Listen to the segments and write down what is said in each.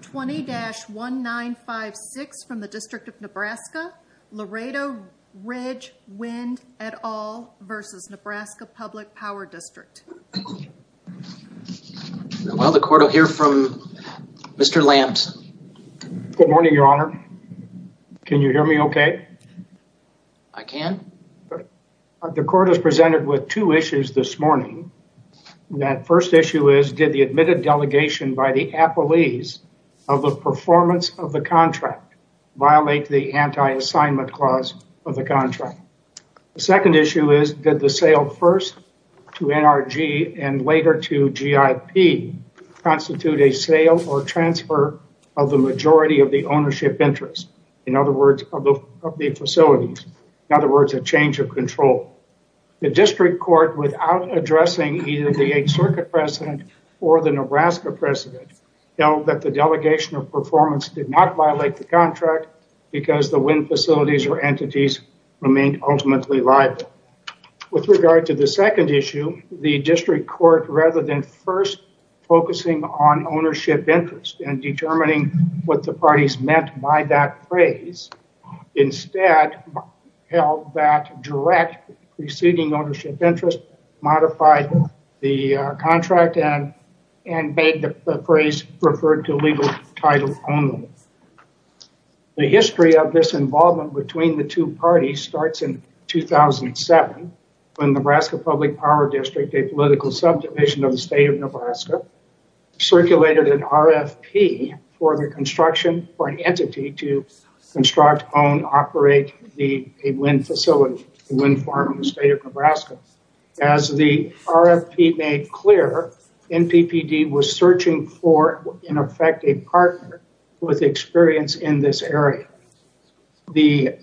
20-1956 from the District of Nebraska, Laredo Ridge Wind et al. versus Nebraska Public Power District. Well, the court will hear from Mr. Lambs. Good morning, your honor. Can you hear me okay? I can. The court is presented with two issues this morning. That first issue is, did the admitted delegation by the appellees of the performance of the contract violate the anti-assignment clause of the contract? The second issue is, did the sale first to NRG and later to GIP constitute a sale or transfer of the majority of the ownership interest? In other words, of the facilities. In other words, a change of control. The district court without addressing either the Eighth Circuit President or the Nebraska President held that the delegation of performance did not violate the contract because the wind facilities or entities remained ultimately liable. With regard to the second issue, the district court, rather than first focusing on ownership interest and determining what the parties meant by that phrase, instead held that direct preceding ownership interest modified the contract and made the phrase referred to legal title only. The history of this involvement between the two parties starts in 2007, when Nebraska Public Power District, a political subdivision of the construct, own, operate a wind facility, a wind farm in the state of Nebraska. As the RFP made clear, NPPD was searching for, in effect, a partner with experience in this area. The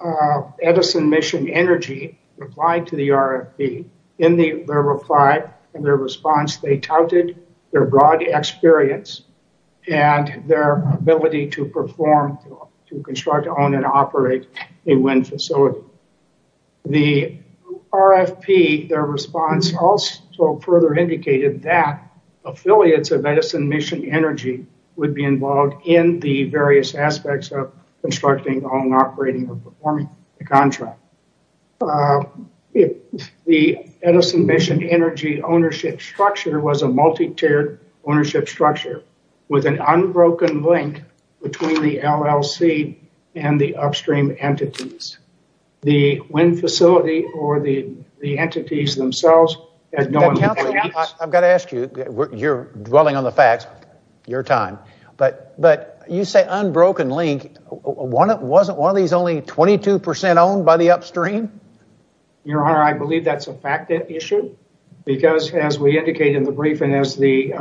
Edison Mission Energy replied to the RFP. In their reply, in their response, they touted their broad experience and their ability to perform, to construct, own, and operate a wind facility. The RFP, their response also further indicated that affiliates of Edison Mission Energy would be involved in the various aspects of constructing, owning, operating, and performing the contract. The Edison Mission Energy ownership structure was a multi-tiered ownership structure with an unbroken link between the LLC and the upstream entities. The wind facility or the entities themselves had no— Councilman, I've got to ask you, you're dwelling on the facts, your time, but you say unbroken link, wasn't one of these only 22% owned by the upstream? Your Honor, I believe that's a fact issue, because as we indicate in the brief and as the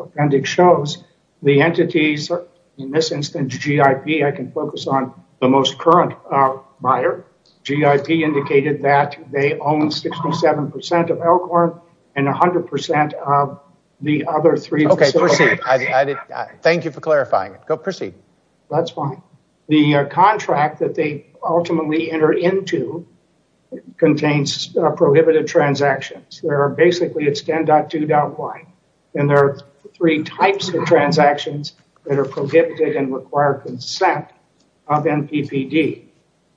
appendix shows, the entities, in this instance, GIP, I can focus on the most current buyer, GIP indicated that they own 67% of Elkhorn and 100% of the other three. Okay, proceed. Thank you for clarifying. Go proceed. That's fine. The contract that they ultimately enter into contains prohibitive transactions. There are basically, it's 10.2.1, and there are three types of transactions that are prohibited and require consent of NPPD.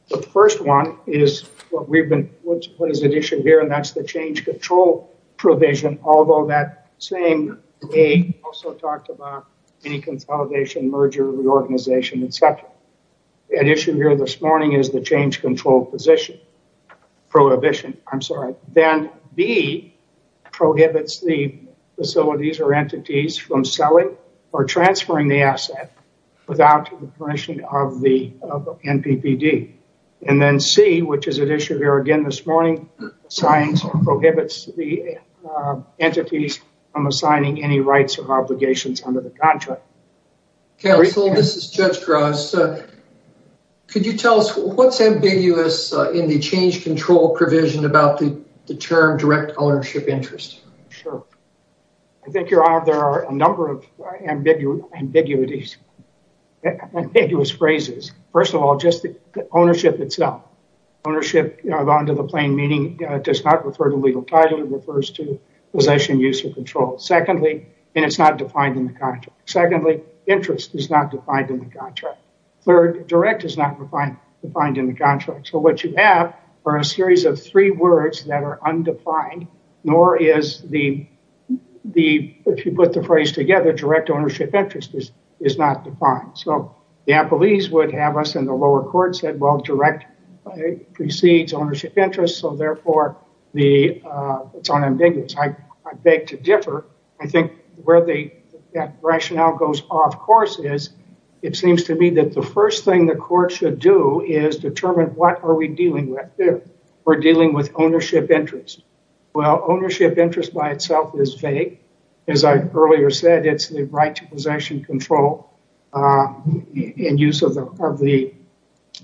The first one is what is at issue here, and that's the change control provision, although that same A also talked about any consolidation, merger, reorganization, et cetera. At issue here this morning is the change control position, prohibition, I'm sorry. Then B prohibits the facilities or entities from selling or transferring the asset without the permission of the NPPD. And then C, which is at issue here again this morning, signs or prohibits the entities from assigning any rights or obligations under the contract. Counsel, this is Judge Gross. Could you tell us what's ambiguous in the change control provision about the term direct ownership interest? Sure. I think you're right. There are a number of ambiguities, ambiguous phrases. First of all, just the ownership itself, ownership under the plain meaning does not refer to legal title. It refers to possession, use, or control. Secondly, and it's not defined in the contract. Secondly, interest is not defined in the contract. Third, direct is not defined in the contract. So, what you have are a series of three words that are undefined, nor is the, if you put the phrase together, direct ownership interest is not defined. So, the appellees would have us in the lower court said, well, direct precedes ownership interest. So, therefore, it's unambiguous. I beg to differ. I think where the rationale goes off course is it seems to me that the first thing the court should do is determine what are we dealing with here. We're dealing with ownership interest. Well, ownership interest by itself is vague. As I earlier said, it's the right to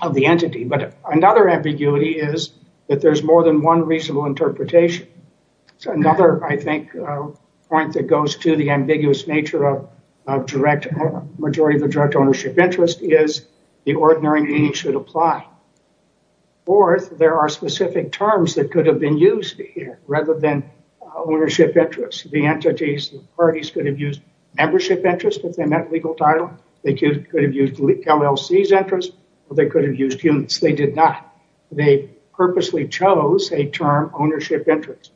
of the entity. But another ambiguity is that there's more than one reasonable interpretation. So, another, I think, point that goes to the ambiguous nature of direct, majority of the direct ownership interest is the ordinary meaning should apply. Fourth, there are specific terms that could have been used here rather than ownership interest. The entities, the parties could have used membership interest if they met legal title. They could have used LLC's interest or they could have used units. They did not. They purposely chose a term ownership interest.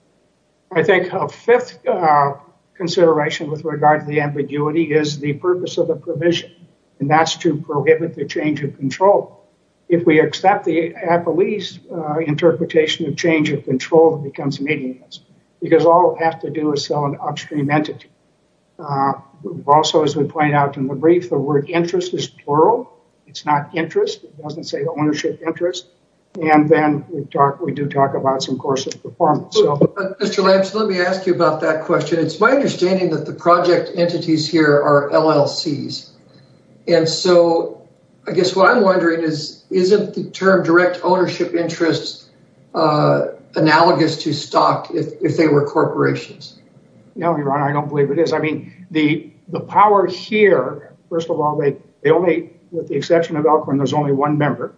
I think a fifth consideration with regard to the ambiguity is the purpose of the provision, and that's to prohibit the change of control. If we accept the appellee's interpretation of change of control, it becomes meaningless because all we have to do is sell an upstream entity. Also, as we point out in the brief, the word interest is plural. It's not interest. It doesn't say ownership interest. And then we do talk about some course of performance. Mr. Lambs, let me ask you about that question. It's my understanding that the project entities here are LLC's. And so, I guess what I'm wondering is, isn't the term direct ownership interest analogous to stock if they were corporations? No, Your Honor, I don't believe it is. I mean, the power here, first of all, with the exception of Elkhorn, there's only one member,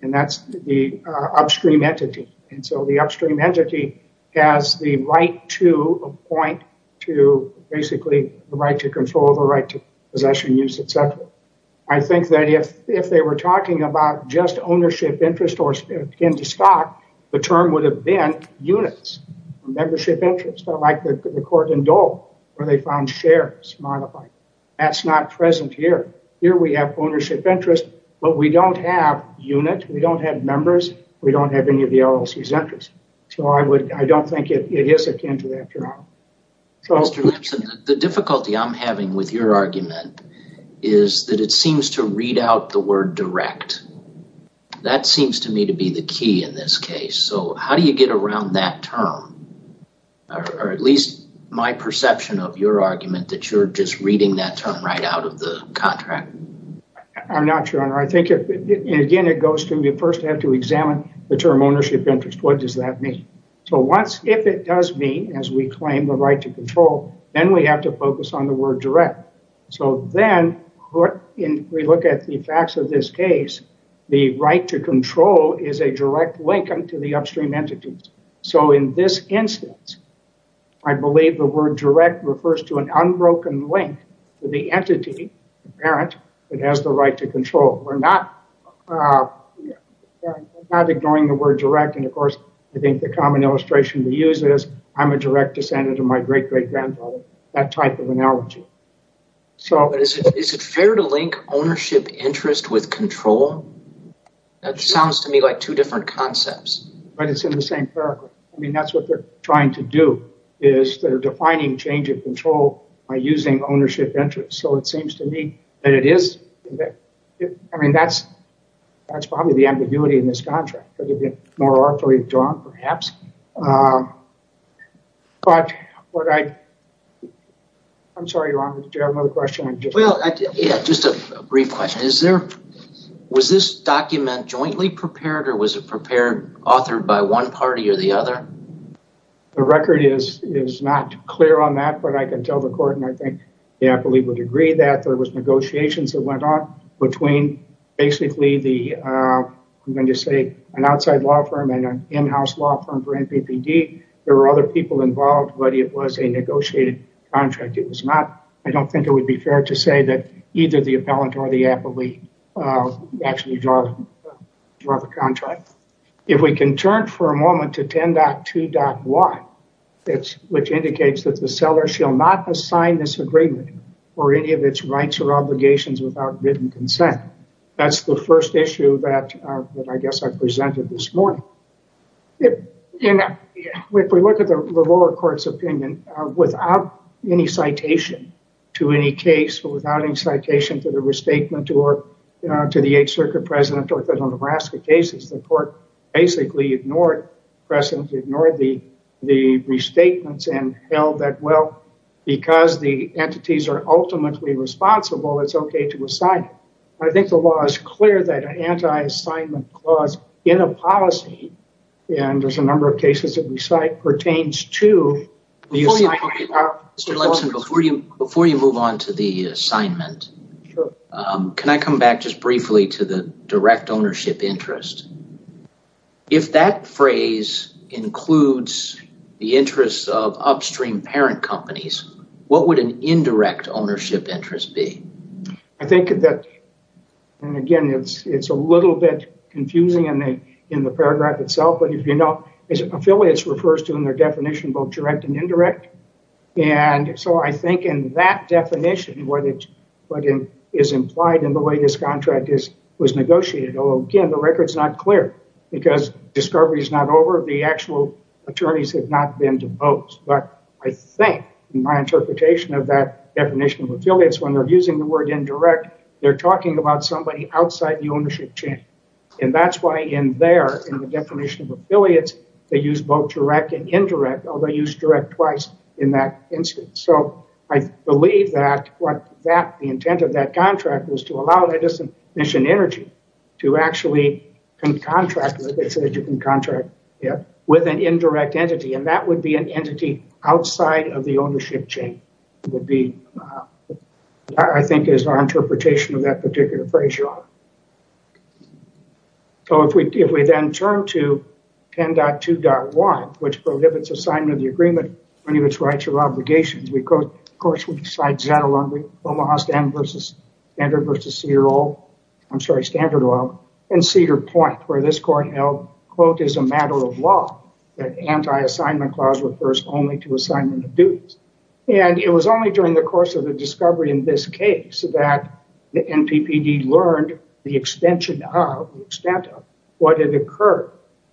and that's the upstream entity. And so, the upstream entity has the right to appoint to basically the right to control, the right to possession, use, et cetera. I think that if they were talking about just ownership interest or akin to stock, the term would have been units, membership interest, like the court in Dole where they found shares modified. That's not present here. Here we have ownership interest, but we don't have unit. We don't have members. We don't have any of the LLC's interest. So, I don't think it is akin to that, Your Honor. Mr. Lambs, the direct, that seems to me to be the key in this case. So, how do you get around that term, or at least my perception of your argument that you're just reading that term right out of the contract? I'm not, Your Honor. I think, again, it goes to, you first have to examine the term ownership interest. What does that mean? So, if it does mean, as we claim, the right to control, then we have to focus on the word direct. So, then, we look at the facts of this case, the right to control is a direct link to the upstream entities. So, in this instance, I believe the word direct refers to an unbroken link to the entity, the parent, that has the right to control. We're not ignoring the word direct, and, of course, I think the common use is, I'm a direct descendant of my great-great-grandfather, that type of analogy. Is it fair to link ownership interest with control? That sounds to me like two different concepts. But, it's in the same paragraph. I mean, that's what they're trying to do, is they're defining change of control by using ownership interest. So, it seems to me that it is, I mean, that's probably the ambiguity in this contract. Could it be more artfully drawn, perhaps? But, what I, I'm sorry, did you have another question? Well, yeah, just a brief question. Is there, was this document jointly prepared, or was it prepared, authored by one party or the other? The record is not clear on that, but I can tell the court, and I think they, I believe, would agree that there was negotiations that went on between, basically, the, I'm going to say, an outside law firm and an in-house law firm for NPPD. There were other people involved, but it was a negotiated contract. It was not, I don't think it would be fair to say that either the appellant or the appellee actually draw the contract. If we can turn for a moment to 10.2.1, it's, which indicates that the seller shall not assign this agreement for any of its rights or obligations without written consent. That's the first issue that, I guess, I presented this morning. If we look at the lower court's opinion, without any citation to any case, without any citation to the restatement or to the Eighth Circuit precedent or to the Nebraska cases, the court basically ignored precedent, ignored the restatements and held that, well, because the it's okay to assign it. I think the law is clear that an anti-assignment clause in a policy, and there's a number of cases that we cite, pertains to the assignment. Mr. Lipson, before you move on to the assignment, can I come back just briefly to the direct ownership interest? If that phrase includes the interests of upstream parent companies, what would an indirect ownership interest be? I think that, and again, it's a little bit confusing in the paragraph itself, but if you know, affiliates refers to in their definition both direct and indirect. And so I think in that definition, what is implied in the way this contract was negotiated, again, the record's not clear because discovery is not over. The actual interpretation of that definition of affiliates, when they're using the word indirect, they're talking about somebody outside the ownership chain. And that's why in there, in the definition of affiliates, they use both direct and indirect, although they use direct twice in that instance. So I believe that what that, the intent of that contract was to allow that disenfranchisement energy to actually contract with an indirect entity. And that would be an would be, I think, is our interpretation of that particular phrase. So if we then turn to 10.2.1, which prohibits assignment of the agreement, any of its rights or obligations, we quote, of course, we decide Zeta Laundry, Omaha Standard versus CRO, I'm sorry, Standard Oil, and Cedar Point, where this court held, quote, is a matter of law that anti-assignment clause refers only to assignment of duties. And it was only during the course of the discovery in this case that the NPPD learned the extension of the extent of what had occurred.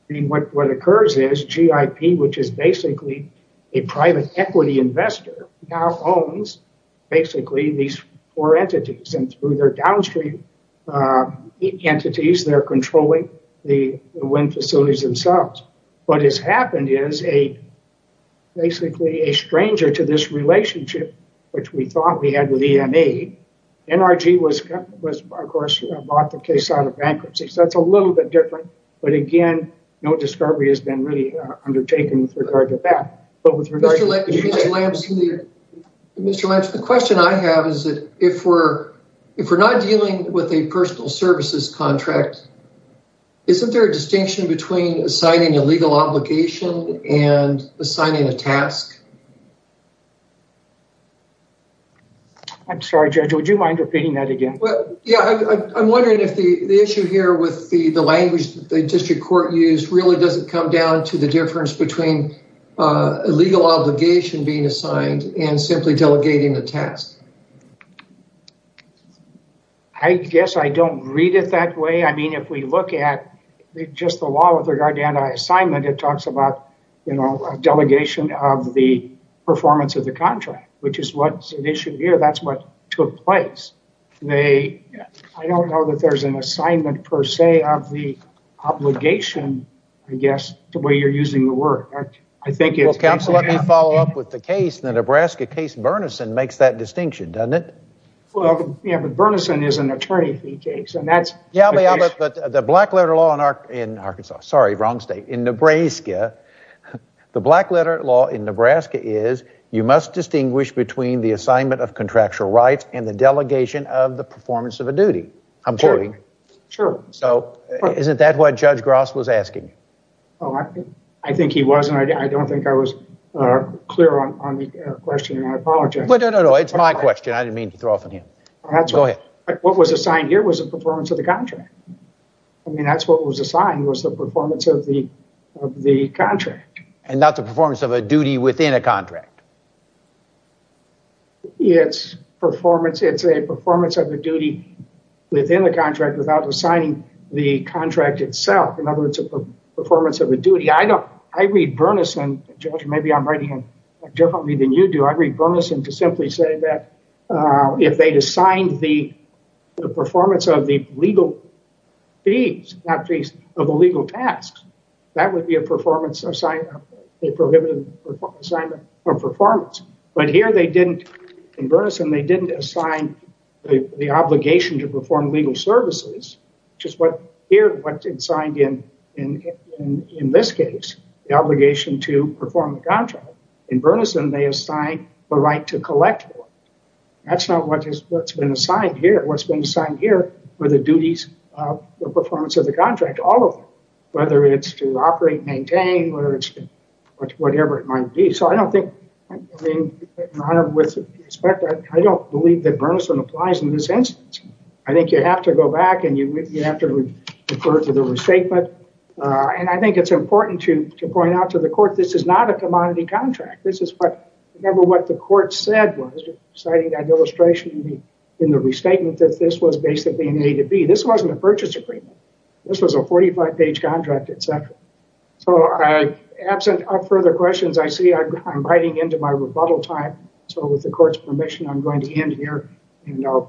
What occurs is GIP, which is basically a private equity investor, now owns basically these four entities and through their downstream entities, they're controlling the wind facilities themselves. What has happened is a basically a stranger to this relationship, which we thought we had with EMA. NRG was, of course, bought the case out of bankruptcy. So that's a little bit different. But again, no discovery has been really undertaken with regard to that. Mr. Lambs, the question I have is that if we're not dealing with a personal services contract, isn't there a distinction between assigning a legal obligation and assigning a task? I'm sorry, Judge, would you mind repeating that again? Well, yeah, I'm wondering if the issue here with the language the district court used really doesn't come down to the difference between a legal obligation being assigned and simply delegating the task. I guess I don't read it that way. I mean, if we look at just the law with regard to anti-assignment, it talks about a delegation of the performance of the contract, which is what's an issue here. That's what took place. I don't know that there's an assignment per se of the obligation, I guess, the way you're using the word. Well, counsel, let me follow up with the case in the Nebraska case. Berneson makes that distinction, doesn't it? Well, yeah, but Berneson is an attorney. Yeah, but the black letter law in Arkansas, sorry, wrong state, in Nebraska, the black letter law in Nebraska is you must distinguish between the assignment of contractual rights and the delegation of the performance of a duty. I'm sorry. Sure. So isn't that what Judge Gross was asking? Oh, I think he wasn't. I don't think I was clear on the question. I apologize. No, no, no. It's my question. I didn't mean to throw off on him. Go ahead. What was assigned here was the performance of the contract. I mean, that's what was assigned was the performance of the contract. And not the performance of a duty within a contract. It's a performance of a duty within the contract without assigning the contract itself. In other words, it's a performance of a duty. I read Berneson, Judge, maybe I'm writing differently than you do. I read Berneson to simply say that if they'd assigned the performance of the legal fees, not fees, of the legal tasks, that would be a prohibitive assignment of performance. But here they didn't, in Berneson, they didn't assign the obligation to perform legal services, which is what here, what's assigned in this case, the obligation to perform the contract. In Berneson, they assign the right to collect. That's not what's been assigned here. What's been assigned here were the duties of the performance of the contract, all of them, whether it's to operate, maintain, or whatever it might be. So I don't think, in honor with respect, I don't believe that Berneson applies in this instance. I think you have to go back and you have to refer to the restatement. And I think it's important to point out to the court, this is not a commodity contract. This is what, remember what the court said was, citing that illustration in the restatement, that this was basically an A to B. This wasn't a purchase agreement. This was a 45-page contract, et cetera. So absent further questions, I see I'm writing into my rebuttal time. So with the court's permission, I'm going to end here and I'll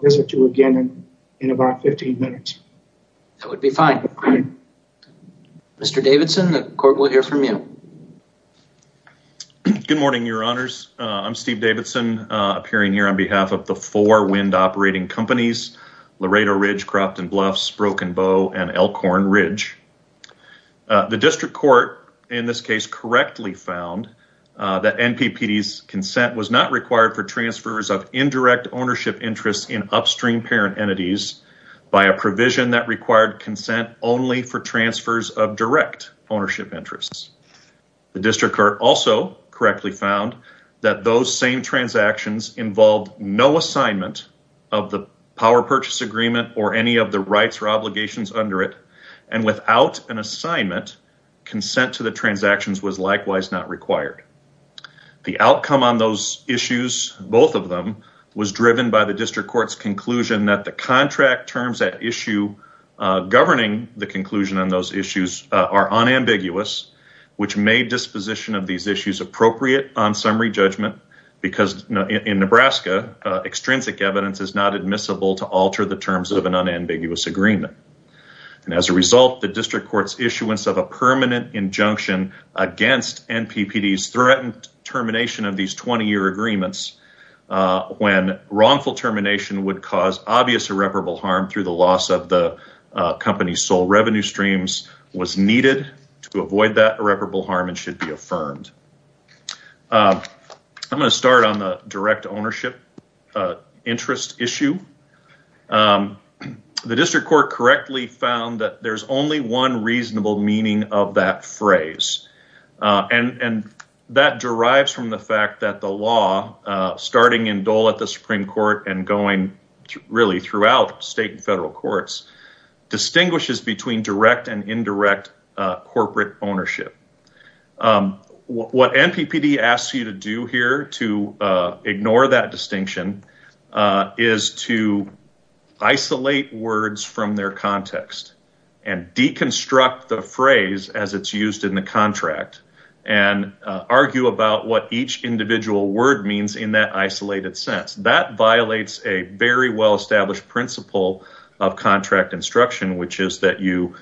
be fine. Mr. Davidson, the court will hear from you. Good morning, your honors. I'm Steve Davidson, appearing here on behalf of the four wind operating companies, Laredo Ridge, Cropton Bluffs, Broken Bow, and Elkhorn Ridge. The district court, in this case, correctly found that NPPD's consent was not required for transfers of indirect ownership interests in upstream parent entities by a provision that required consent only for transfers of direct ownership interests. The district court also correctly found that those same transactions involved no assignment of the power purchase agreement or any of the rights or obligations under it. And without an assignment, consent to the transactions was likewise not required. The outcome on those issues, both of them, was driven by the district court's conclusion that the contract terms that issue governing the conclusion on those issues are unambiguous, which made disposition of these issues appropriate on summary judgment, because in Nebraska, extrinsic evidence is not admissible to alter the terms of an unambiguous agreement. And as a result, the district court's issuance of a permanent injunction against NPPD's threatened termination of these 20-year agreements when wrongful termination would cause obvious irreparable harm through the loss of the company's sole revenue streams was needed to avoid that irreparable harm and should be affirmed. I'm going to start on the direct ownership interest issue. The district court correctly found that there's only one reasonable meaning of that phrase, and that derives from the fact that the law, starting in Dole at the Supreme Court and going really throughout state and federal courts, distinguishes between direct and indirect corporate ownership. What NPPD asks you to do here to ignore that distinction is to isolate words from their word means in that isolated sense. That violates a very well-established principle of contract instruction, which is that you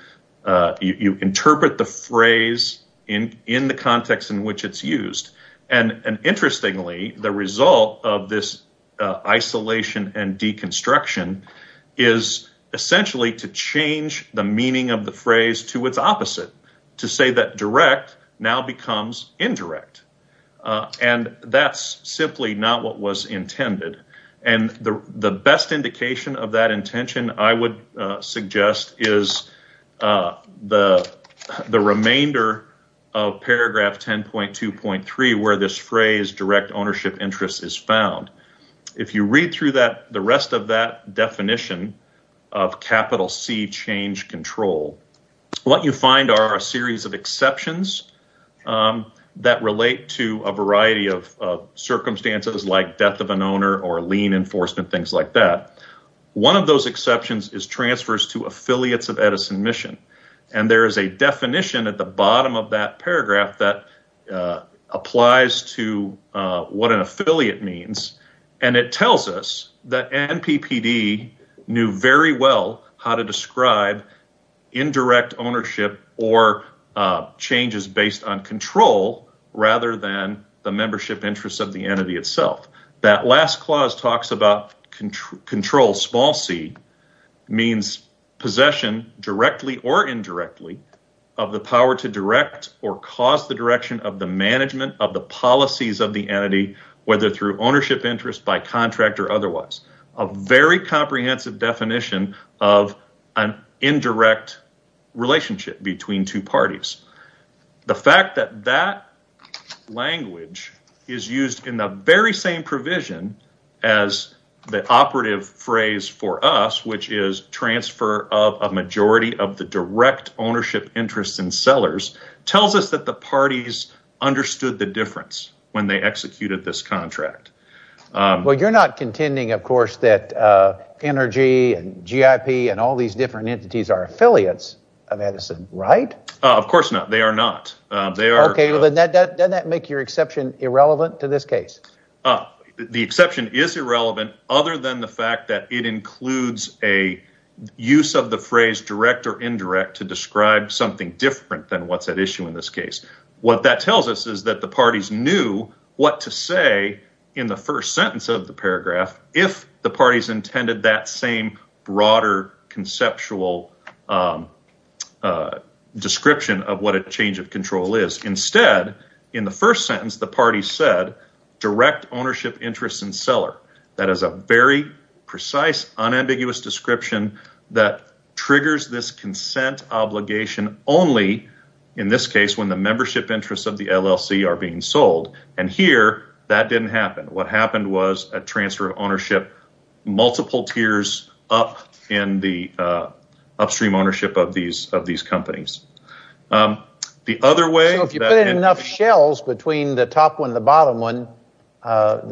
interpret the phrase in the context in which it's used. And interestingly, the result of this isolation and deconstruction is essentially to change the meaning of the phrase to its opposite, to say that direct now becomes indirect. And that's simply not what was intended. And the best indication of that intention, I would suggest, is the remainder of paragraph 10.2.3, where this phrase direct ownership interest is found. If you read through the rest of that definition of capital C change control, what you find are a series of exceptions that relate to a variety of circumstances like death of an owner or lien enforcement, things like that. One of those exceptions is transfers to affiliates of Edison Mission. And there is a definition at the bottom of that paragraph that applies to what an affiliate means. And it tells us that NPPD knew very well how to describe indirect ownership or changes based on control rather than the membership interest of the entity itself. That last clause talks about control, small c, means possession directly or indirectly of the power to direct or cause the direction of the management of the policies of the entity, whether through ownership interest by contract or otherwise. A very comprehensive definition of an indirect relationship between two parties. The fact that that language is used in the very same provision as the operative phrase for us, which is transfer of a majority of the direct ownership interest in sellers, tells us that the parties understood the difference when they and all these different entities are affiliates of Edison, right? Of course not. They are not. They are. OK, well, then that doesn't make your exception irrelevant to this case. The exception is irrelevant other than the fact that it includes a use of the phrase direct or indirect to describe something different than what's at issue in this case. What that tells us is that the parties knew what to say in the first sentence of the paragraph if the parties intended that same broader conceptual description of what a change of control is. Instead, in the first sentence, the party said direct ownership interest in seller. That is a very precise, unambiguous description that triggers this consent obligation only in this case when the membership interests of the LLC are being sold. And here, that didn't happen. What happened was a transfer of ownership, multiple tiers up in the upstream ownership of these companies. The other way... So if you put in enough shells between the top one and the bottom one,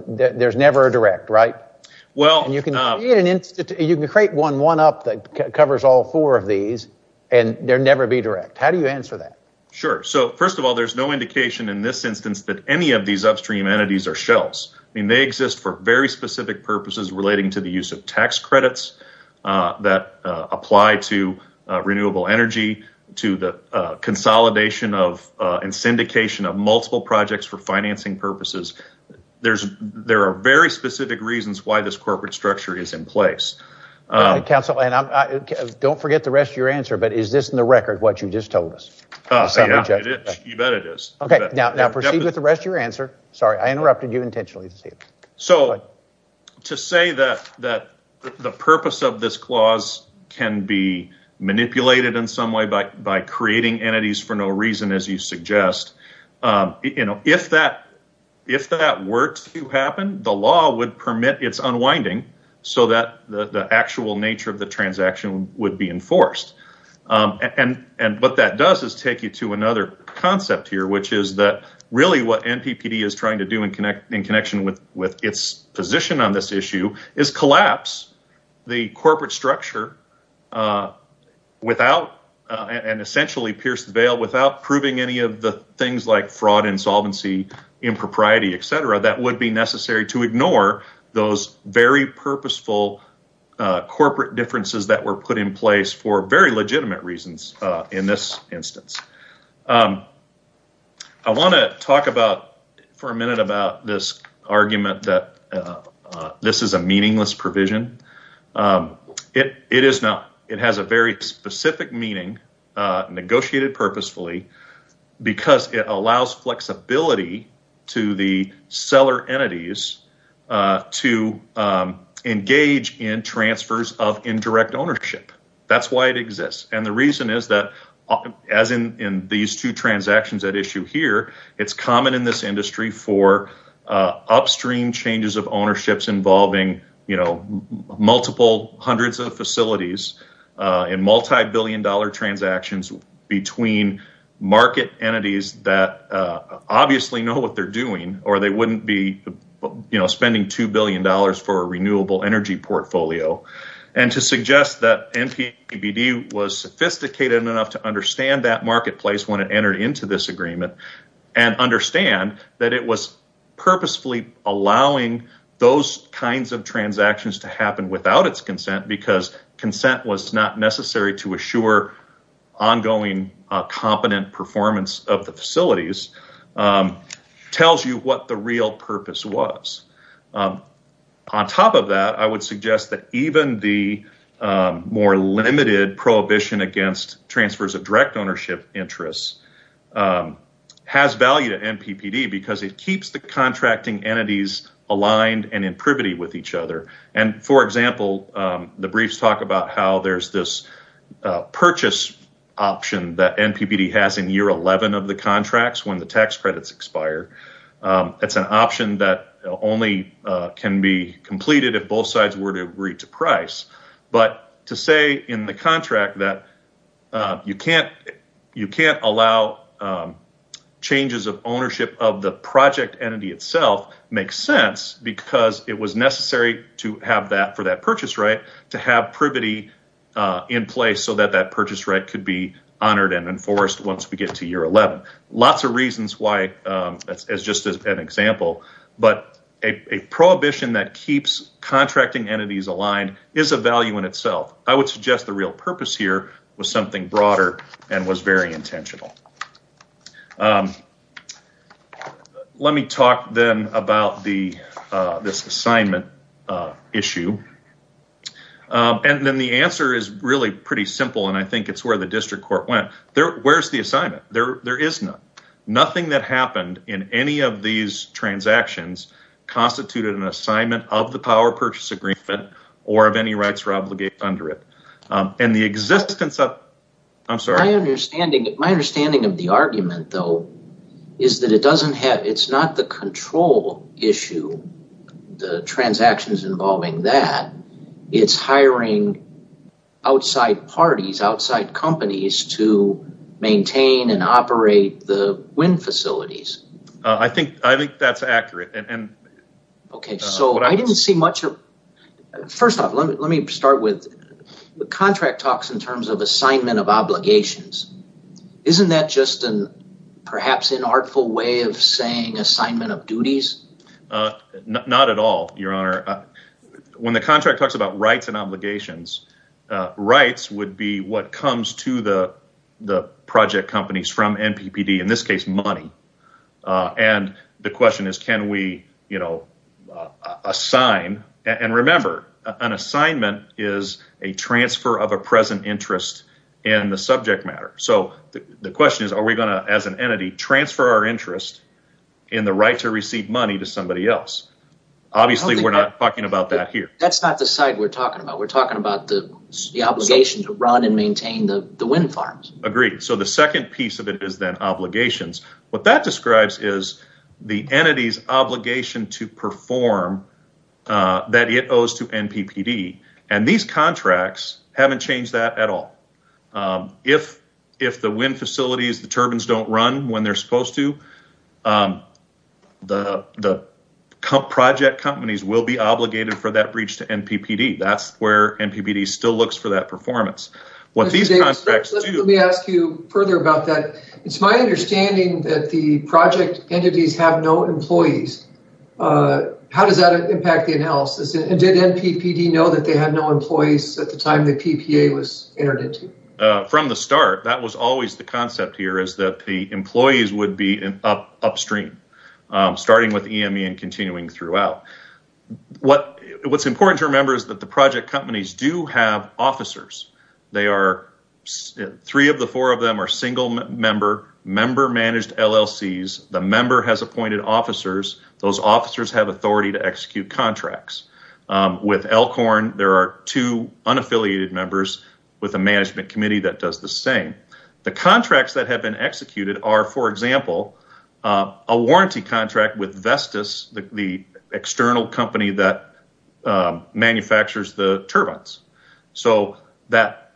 there's never a direct, right? You can create one up that covers all four of these and there'd never be direct. How do you answer that? Sure. So first of all, there's no indication in this instance that any of these relating to the use of tax credits that apply to renewable energy, to the consolidation and syndication of multiple projects for financing purposes. There are very specific reasons why this corporate structure is in place. Councilman, don't forget the rest of your answer, but is this in the record what you just told us? You bet it is. Okay. Now proceed with the rest of your answer. Sorry, I interrupted you intentionally. So to say that the purpose of this clause can be manipulated in some way by creating entities for no reason, as you suggest, if that were to happen, the law would permit its unwinding so that the actual nature of the transaction would be enforced. And what that does is take you to another concept here, which is that what NPPD is trying to do in connection with its position on this issue is collapse the corporate structure and essentially pierce the veil without proving any of the things like fraud, insolvency, impropriety, et cetera, that would be necessary to ignore those very purposeful corporate differences that were put in place for very legitimate reasons in this instance. I want to talk about for a minute about this argument that this is a meaningless provision. It is not. It has a very specific meaning negotiated purposefully because it allows flexibility to the seller entities to engage in transfers of indirect ownership. That's why it in these two transactions at issue here, it's common in this industry for upstream changes of ownerships involving multiple hundreds of facilities and multi-billion dollar transactions between market entities that obviously know what they're doing or they wouldn't be spending two billion dollars for a renewable energy portfolio. And to suggest that NPPD was sophisticated enough to understand that marketplace when it entered into this agreement and understand that it was purposefully allowing those kinds of transactions to happen without its consent because consent was not necessary to assure ongoing competent performance of the facilities tells you what the real purpose was. On top of that, I would suggest that even the more limited prohibition against transfers of direct ownership interests has value to NPPD because it keeps the contracting entities aligned and in privity with each other. And for example, the briefs talk about how there's this purchase option that NPPD has in year 11 of the contracts when the tax credits expire. It's an option that only can be completed if both sides were to agree to price. But to say in the contract that you can't allow changes of ownership of the project entity itself makes sense because it was necessary to have that for that purchase right to have privity in place so that that purchase right could be honored and enforced once we get to year 11. Lots of reasons why as just an example, but a prohibition that keeps contracting entities aligned is a value in itself. I would suggest the real purpose here was something broader and was very intentional. Let me talk then about this assignment issue. And then the answer is really pretty simple and I think it's where the district court went. Where's the assignment? There is none. Nothing that happened in any of these transactions constituted an assignment of the power purchase agreement or of any rights or obligations under it. And the existence of, I'm sorry. My understanding of the argument though is that it's not the control issue, the transactions involving that. It's hiring outside parties, outside companies to maintain and operate the wind facilities. I think that's accurate. First off, let me start with the contract talks in terms of assignment of obligations. Isn't that just an perhaps inartful way of saying assignment of duties? Not at all, your honor. When the contract talks about rights and obligations, rights would be what comes to the project companies from NPPD, in this case money. And the question is, can we assign? And remember, an assignment is a transfer of a present interest in the subject matter. So the question is, are we going to, as an entity, transfer our interest in the right to receive money to somebody else? Obviously, we're not talking about that here. That's not the side we're talking about. We're talking about the obligation to run and maintain the wind farms. Agreed. So the second piece of it is then obligations. What that describes is the entity's obligation to perform that it owes to NPPD. And these contracts haven't changed that at all. If the wind facilities, the turbines don't run when they're supposed to, the project companies will be obligated for that breach to NPPD. That's where NPPD still looks for that performance. Let me ask you further about that. It's my understanding that the project entities have no employees. How does that impact the analysis? And did NPPD know that they had no NPPD? From the start, that was always the concept here, is that the employees would be upstream, starting with EME and continuing throughout. What's important to remember is that the project companies do have officers. Three of the four of them are single-member, member-managed LLCs. The member has appointed officers. Those officers have authority to execute contracts. With Elkhorn, there are two unaffiliated members with a management committee that does the same. The contracts that have been executed are, for example, a warranty contract with Vestas, the external company that manufactures the turbines. So that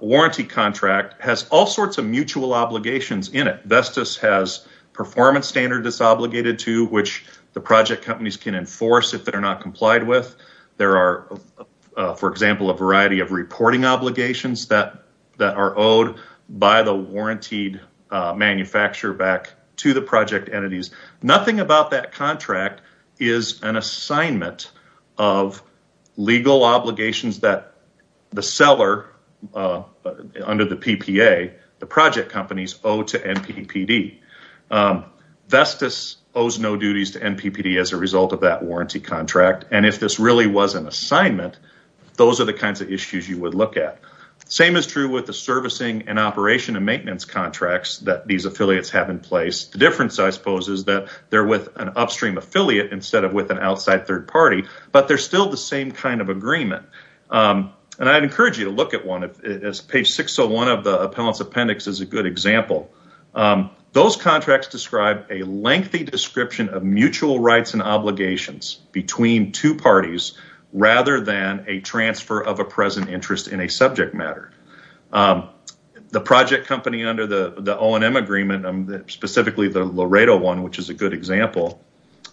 warranty contract has all sorts of mutual obligations in it. Vestas has performance standards it's obligated to, which the project companies can enforce if they're not complied with. There are, for example, a variety of reporting obligations that are owed by the warrantied manufacturer back to the project entities. Nothing about that contract is an assignment of legal obligations that the seller under the PPA, the project companies, owe to NPPD. Vestas owes no duties to NPPD as a result of that warranty contract. If this really was an assignment, those are the kinds of issues you would look at. The same is true with the servicing and operation and maintenance contracts that these affiliates have in place. The difference, I suppose, is that they're with an upstream affiliate instead of with an outside third party, but they're still the same kind of agreement. I'd encourage you to look at one. Page 601 of the appellant's appendix is a good example. Those contracts describe a lengthy description of mutual rights and obligations between two parties rather than a transfer of a present interest in a subject matter. The project company under the O&M agreement, specifically the Laredo one, which is a good example,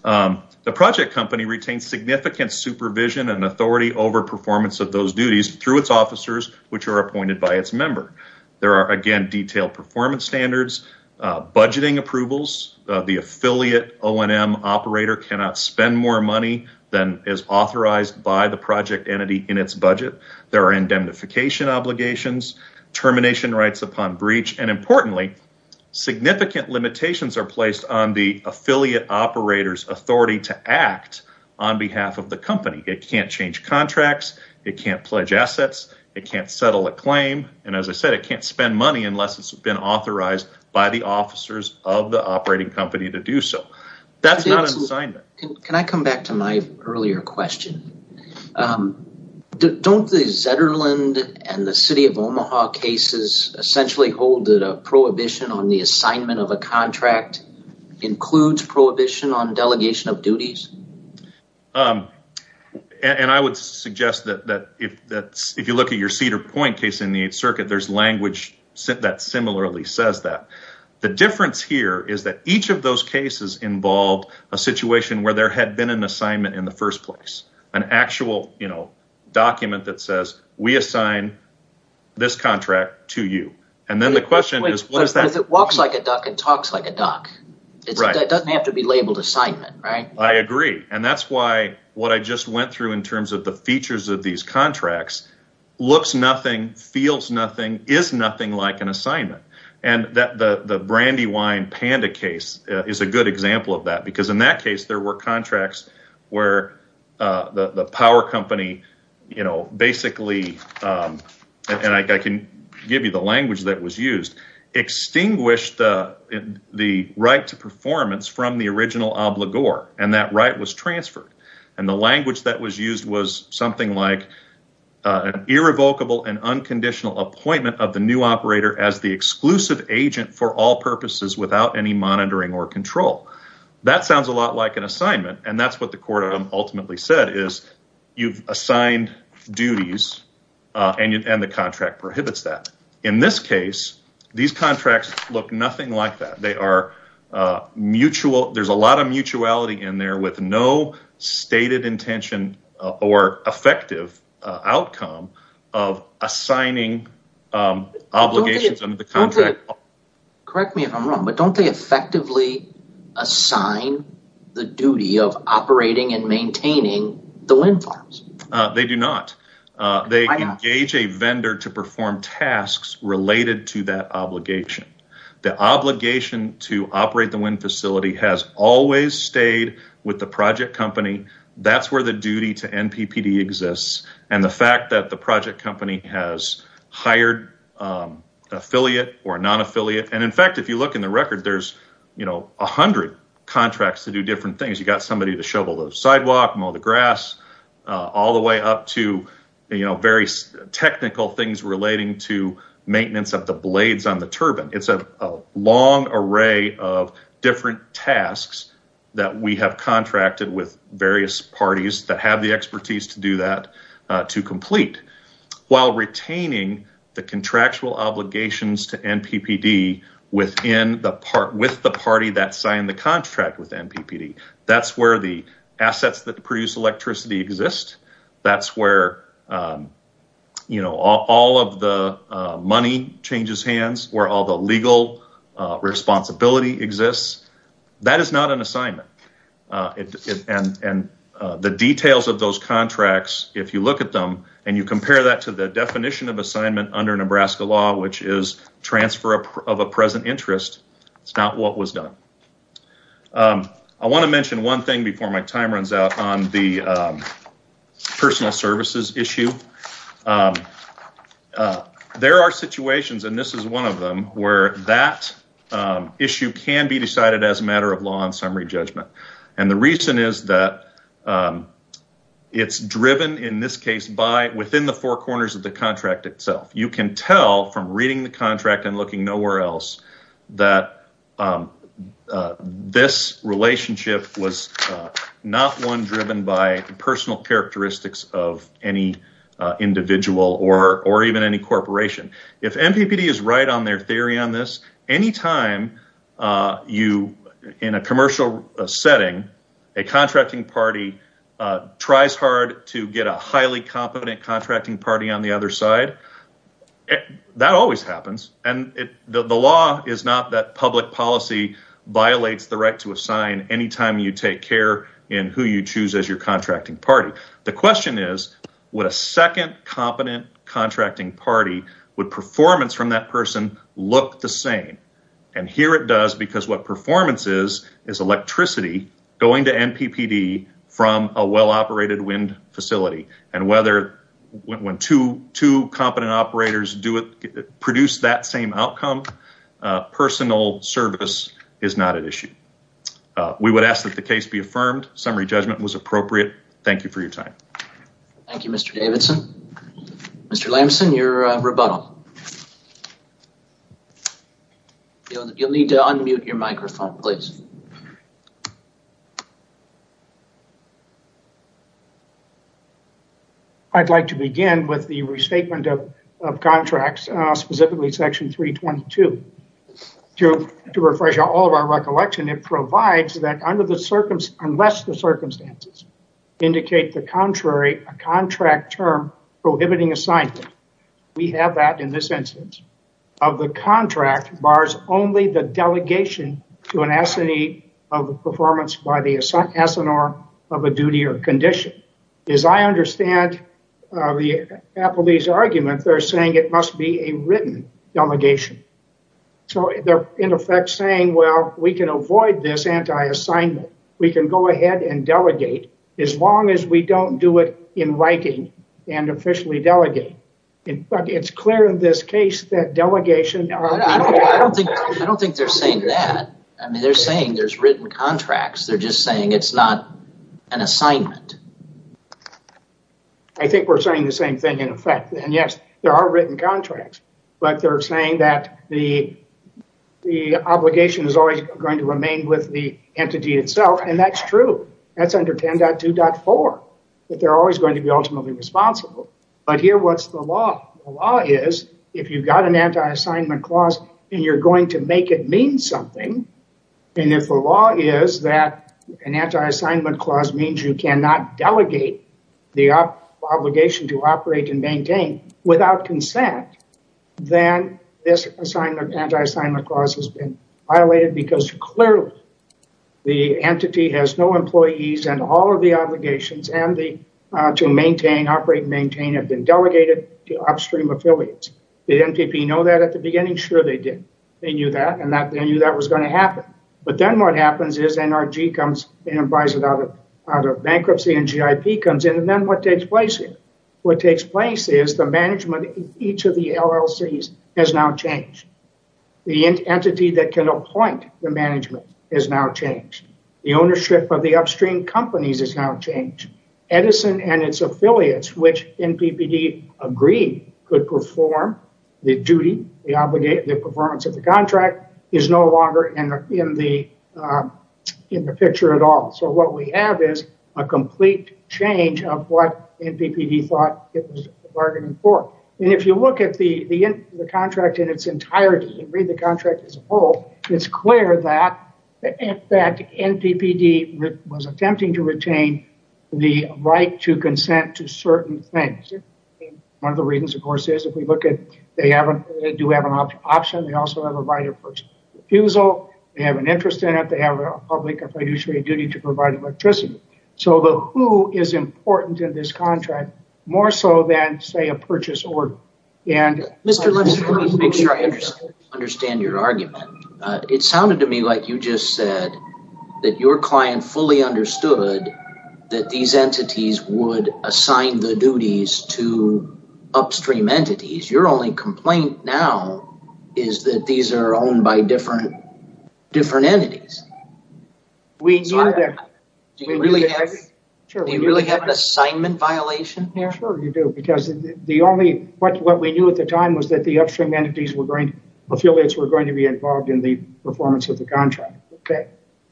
the project company retains significant supervision and authority over performance of those duties through its officers, which are appointed by its member. There are, again, detailed performance standards, budgeting approvals. The affiliate O&M operator cannot spend more money than is authorized by the project entity in its budget. There are indemnification obligations, termination rights upon breach, and importantly, significant limitations are placed on the affiliate operator's authority to act on behalf of the company. It can't change contracts, it can't pledge assets, it can't settle a claim, and as I said, it can't spend money unless it's been authorized by the officers of the operating company to do so. That's not an assignment. Can I come back to my earlier question? Don't the Zetterland and the City of Omaha cases essentially hold that a prohibition on the And I would suggest that if you look at your Cedar Point case in the Eighth Circuit, there's language that similarly says that. The difference here is that each of those cases involved a situation where there had been an assignment in the first place, an actual document that says, we assign this contract to you. And then the question is, what is that? Because it walks like a duck and talks like a duck. It doesn't have to be labeled assignment, right? I agree. And that's why what I just went through in terms of the features of these contracts looks nothing, feels nothing, is nothing like an assignment. And the Brandywine Panda case is a good example of that, because in that case, there were contracts where the power company basically, and I can give you the language that was used, extinguished the right to performance from the original obligor, and that right was transferred. And the language that was used was something like an irrevocable and unconditional appointment of the new operator as the exclusive agent for all purposes without any monitoring or control. That sounds a lot like an assignment, and that's what the court ultimately said, is you've assigned duties and the contract there's a lot of mutuality in there with no stated intention or effective outcome of assigning obligations under the contract. Correct me if I'm wrong, but don't they effectively assign the duty of operating and maintaining the wind farms? They do not. They engage a vendor to always stayed with the project company. That's where the duty to NPPD exists, and the fact that the project company has hired affiliate or non-affiliate. And in fact, if you look in the record, there's a hundred contracts to do different things. You got somebody to shovel the sidewalk, mow the grass, all the way up to various technical things relating to maintenance of the blades on the turbine. It's a long array of different tasks that we have contracted with various parties that have the expertise to do that to complete while retaining the contractual obligations to NPPD within the part with the party that signed the contract with NPPD. That's where the assets that produce electricity exist. That's where all of the money changes hands, where all the legal responsibility exists. That is not an assignment. And the details of those contracts, if you look at them and you compare that to the definition of assignment under Nebraska law, which is transfer of a present interest, it's not what was done. I want to mention one thing before my time runs out on the personal services issue. There are situations, and this is one of them, where that issue can be decided as a matter of law and summary judgment. And the reason is that it's driven in this case by within the four corners of the contract itself. You can tell from reading the contract and looking nowhere else that this relationship was not one driven by personal characteristics of any individual or even any corporation. If NPPD is right on their theory on this, anytime you, in a commercial setting, a contracting party tries hard to get a highly competent contracting party on the other side, that always happens. And the law is not that public policy violates the right to assign any time you take care in who you choose as your contracting party. The question is, would a second competent contracting party, would performance from that person look the same? And here it does, because what performance is, is electricity going to NPPD from a well-operated wind facility. And when two competent operators produce that same outcome, personal service is not an issue. We would ask that the case be affirmed. Summary judgment was appropriate. Thank you for your time. Thank you, Mr. Davidson. Mr. Lamson, your rebuttal. You'll need to unmute your microphone, please. I'd like to begin with the restatement of contracts, specifically section 322. To refresh all of our recollection, it provides that unless the circumstances indicate the contrary, a contract term prohibiting assignment, we have that in this instance, of the contract bars only the delegation to an S&E of the performance by the S&R of a duty or condition. As I understand the appellee's argument, they're saying it must be a written delegation. So they're in effect saying, well, we can avoid this anti-assignment. We can go ahead and delegate as long as we don't do it in writing and officially delegate. It's clear in this case that delegation... I don't think they're saying that. I mean, they're saying there's written contracts. They're just saying it's not an assignment. I think we're saying the same thing in effect. And yes, there are written contracts, but they're saying that the obligation is always going to remain with the entity itself. And that's true. That's under 10.2.4, that they're always going to be ultimately responsible. But here, what's the law? The law is if you've got an anti-assignment clause and you're going to mean something, and if the law is that an anti-assignment clause means you cannot delegate the obligation to operate and maintain without consent, then this anti-assignment clause has been violated because clearly the entity has no employees and all of the obligations to operate and maintain have been delegated to upstream affiliates. Did NPP know that at the beginning? Sure, they did. They knew that, and they knew that was going to happen. But then what happens is NRG comes and buys it out of bankruptcy, and GIP comes in, and then what takes place here? What takes place is the management of each of the LLCs has now changed. The entity that can appoint the management has now changed. The ownership of the upstream companies has now changed. The performance of the contract is no longer in the picture at all. So what we have is a complete change of what NPPD thought it was bargaining for. And if you look at the contract in its entirety and read the contract as a whole, it's clear that NPPD was attempting to retain the right to consent to certain things. One of the reasons, of course, is if we look at they do have an option. They also have a right of refusal. They have an interest in it. They have a public or fiduciary duty to provide electricity. So the who is important in this contract more so than, say, a purchase order. Mr. Lipscomb, let me make sure I understand your argument. It sounded to me like you just said that your client fully understood that these entities would assign the duties to upstream entities. Your only complaint now is that these are owned by different entities. Do you really have an assignment violation here? Sure, you do. Because what we knew at the time was that the upstream affiliates were going to be involved in the performance of the contract.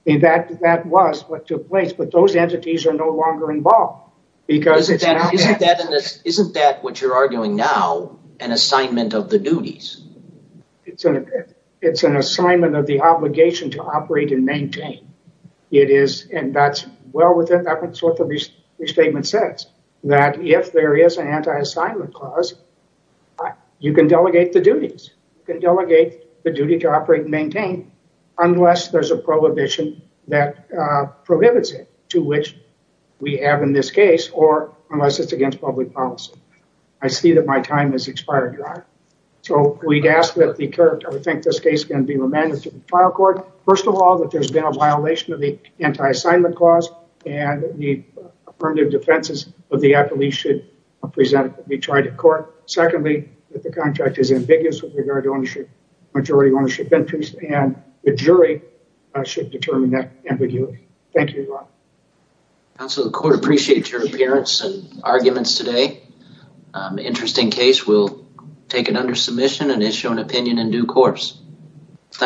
In fact, that was what took place. But those entities were not involved. Isn't that what you're arguing now, an assignment of the duties? It's an assignment of the obligation to operate and maintain. It is, and that's well within what the restatement says, that if there is an anti-assignment clause, you can delegate the duties. You can delegate the duty to operate and maintain unless there's a prohibition that prohibits it, to which we have in this case, or unless it's against public policy. I see that my time has expired, Your Honor. So we'd ask that the court, I think this case can be remanded to the trial court. First of all, that there's been a violation of the anti-assignment clause and the affirmative defenses of the affiliate should be tried in court. Secondly, that the contract is ambiguous with regard to ownership, majority ownership interest, and the jury should determine that ambiguity. Thank you, Your Honor. Counsel, the court appreciates your appearance and arguments today. Interesting case. We'll take it under submission and issue an opinion in due course.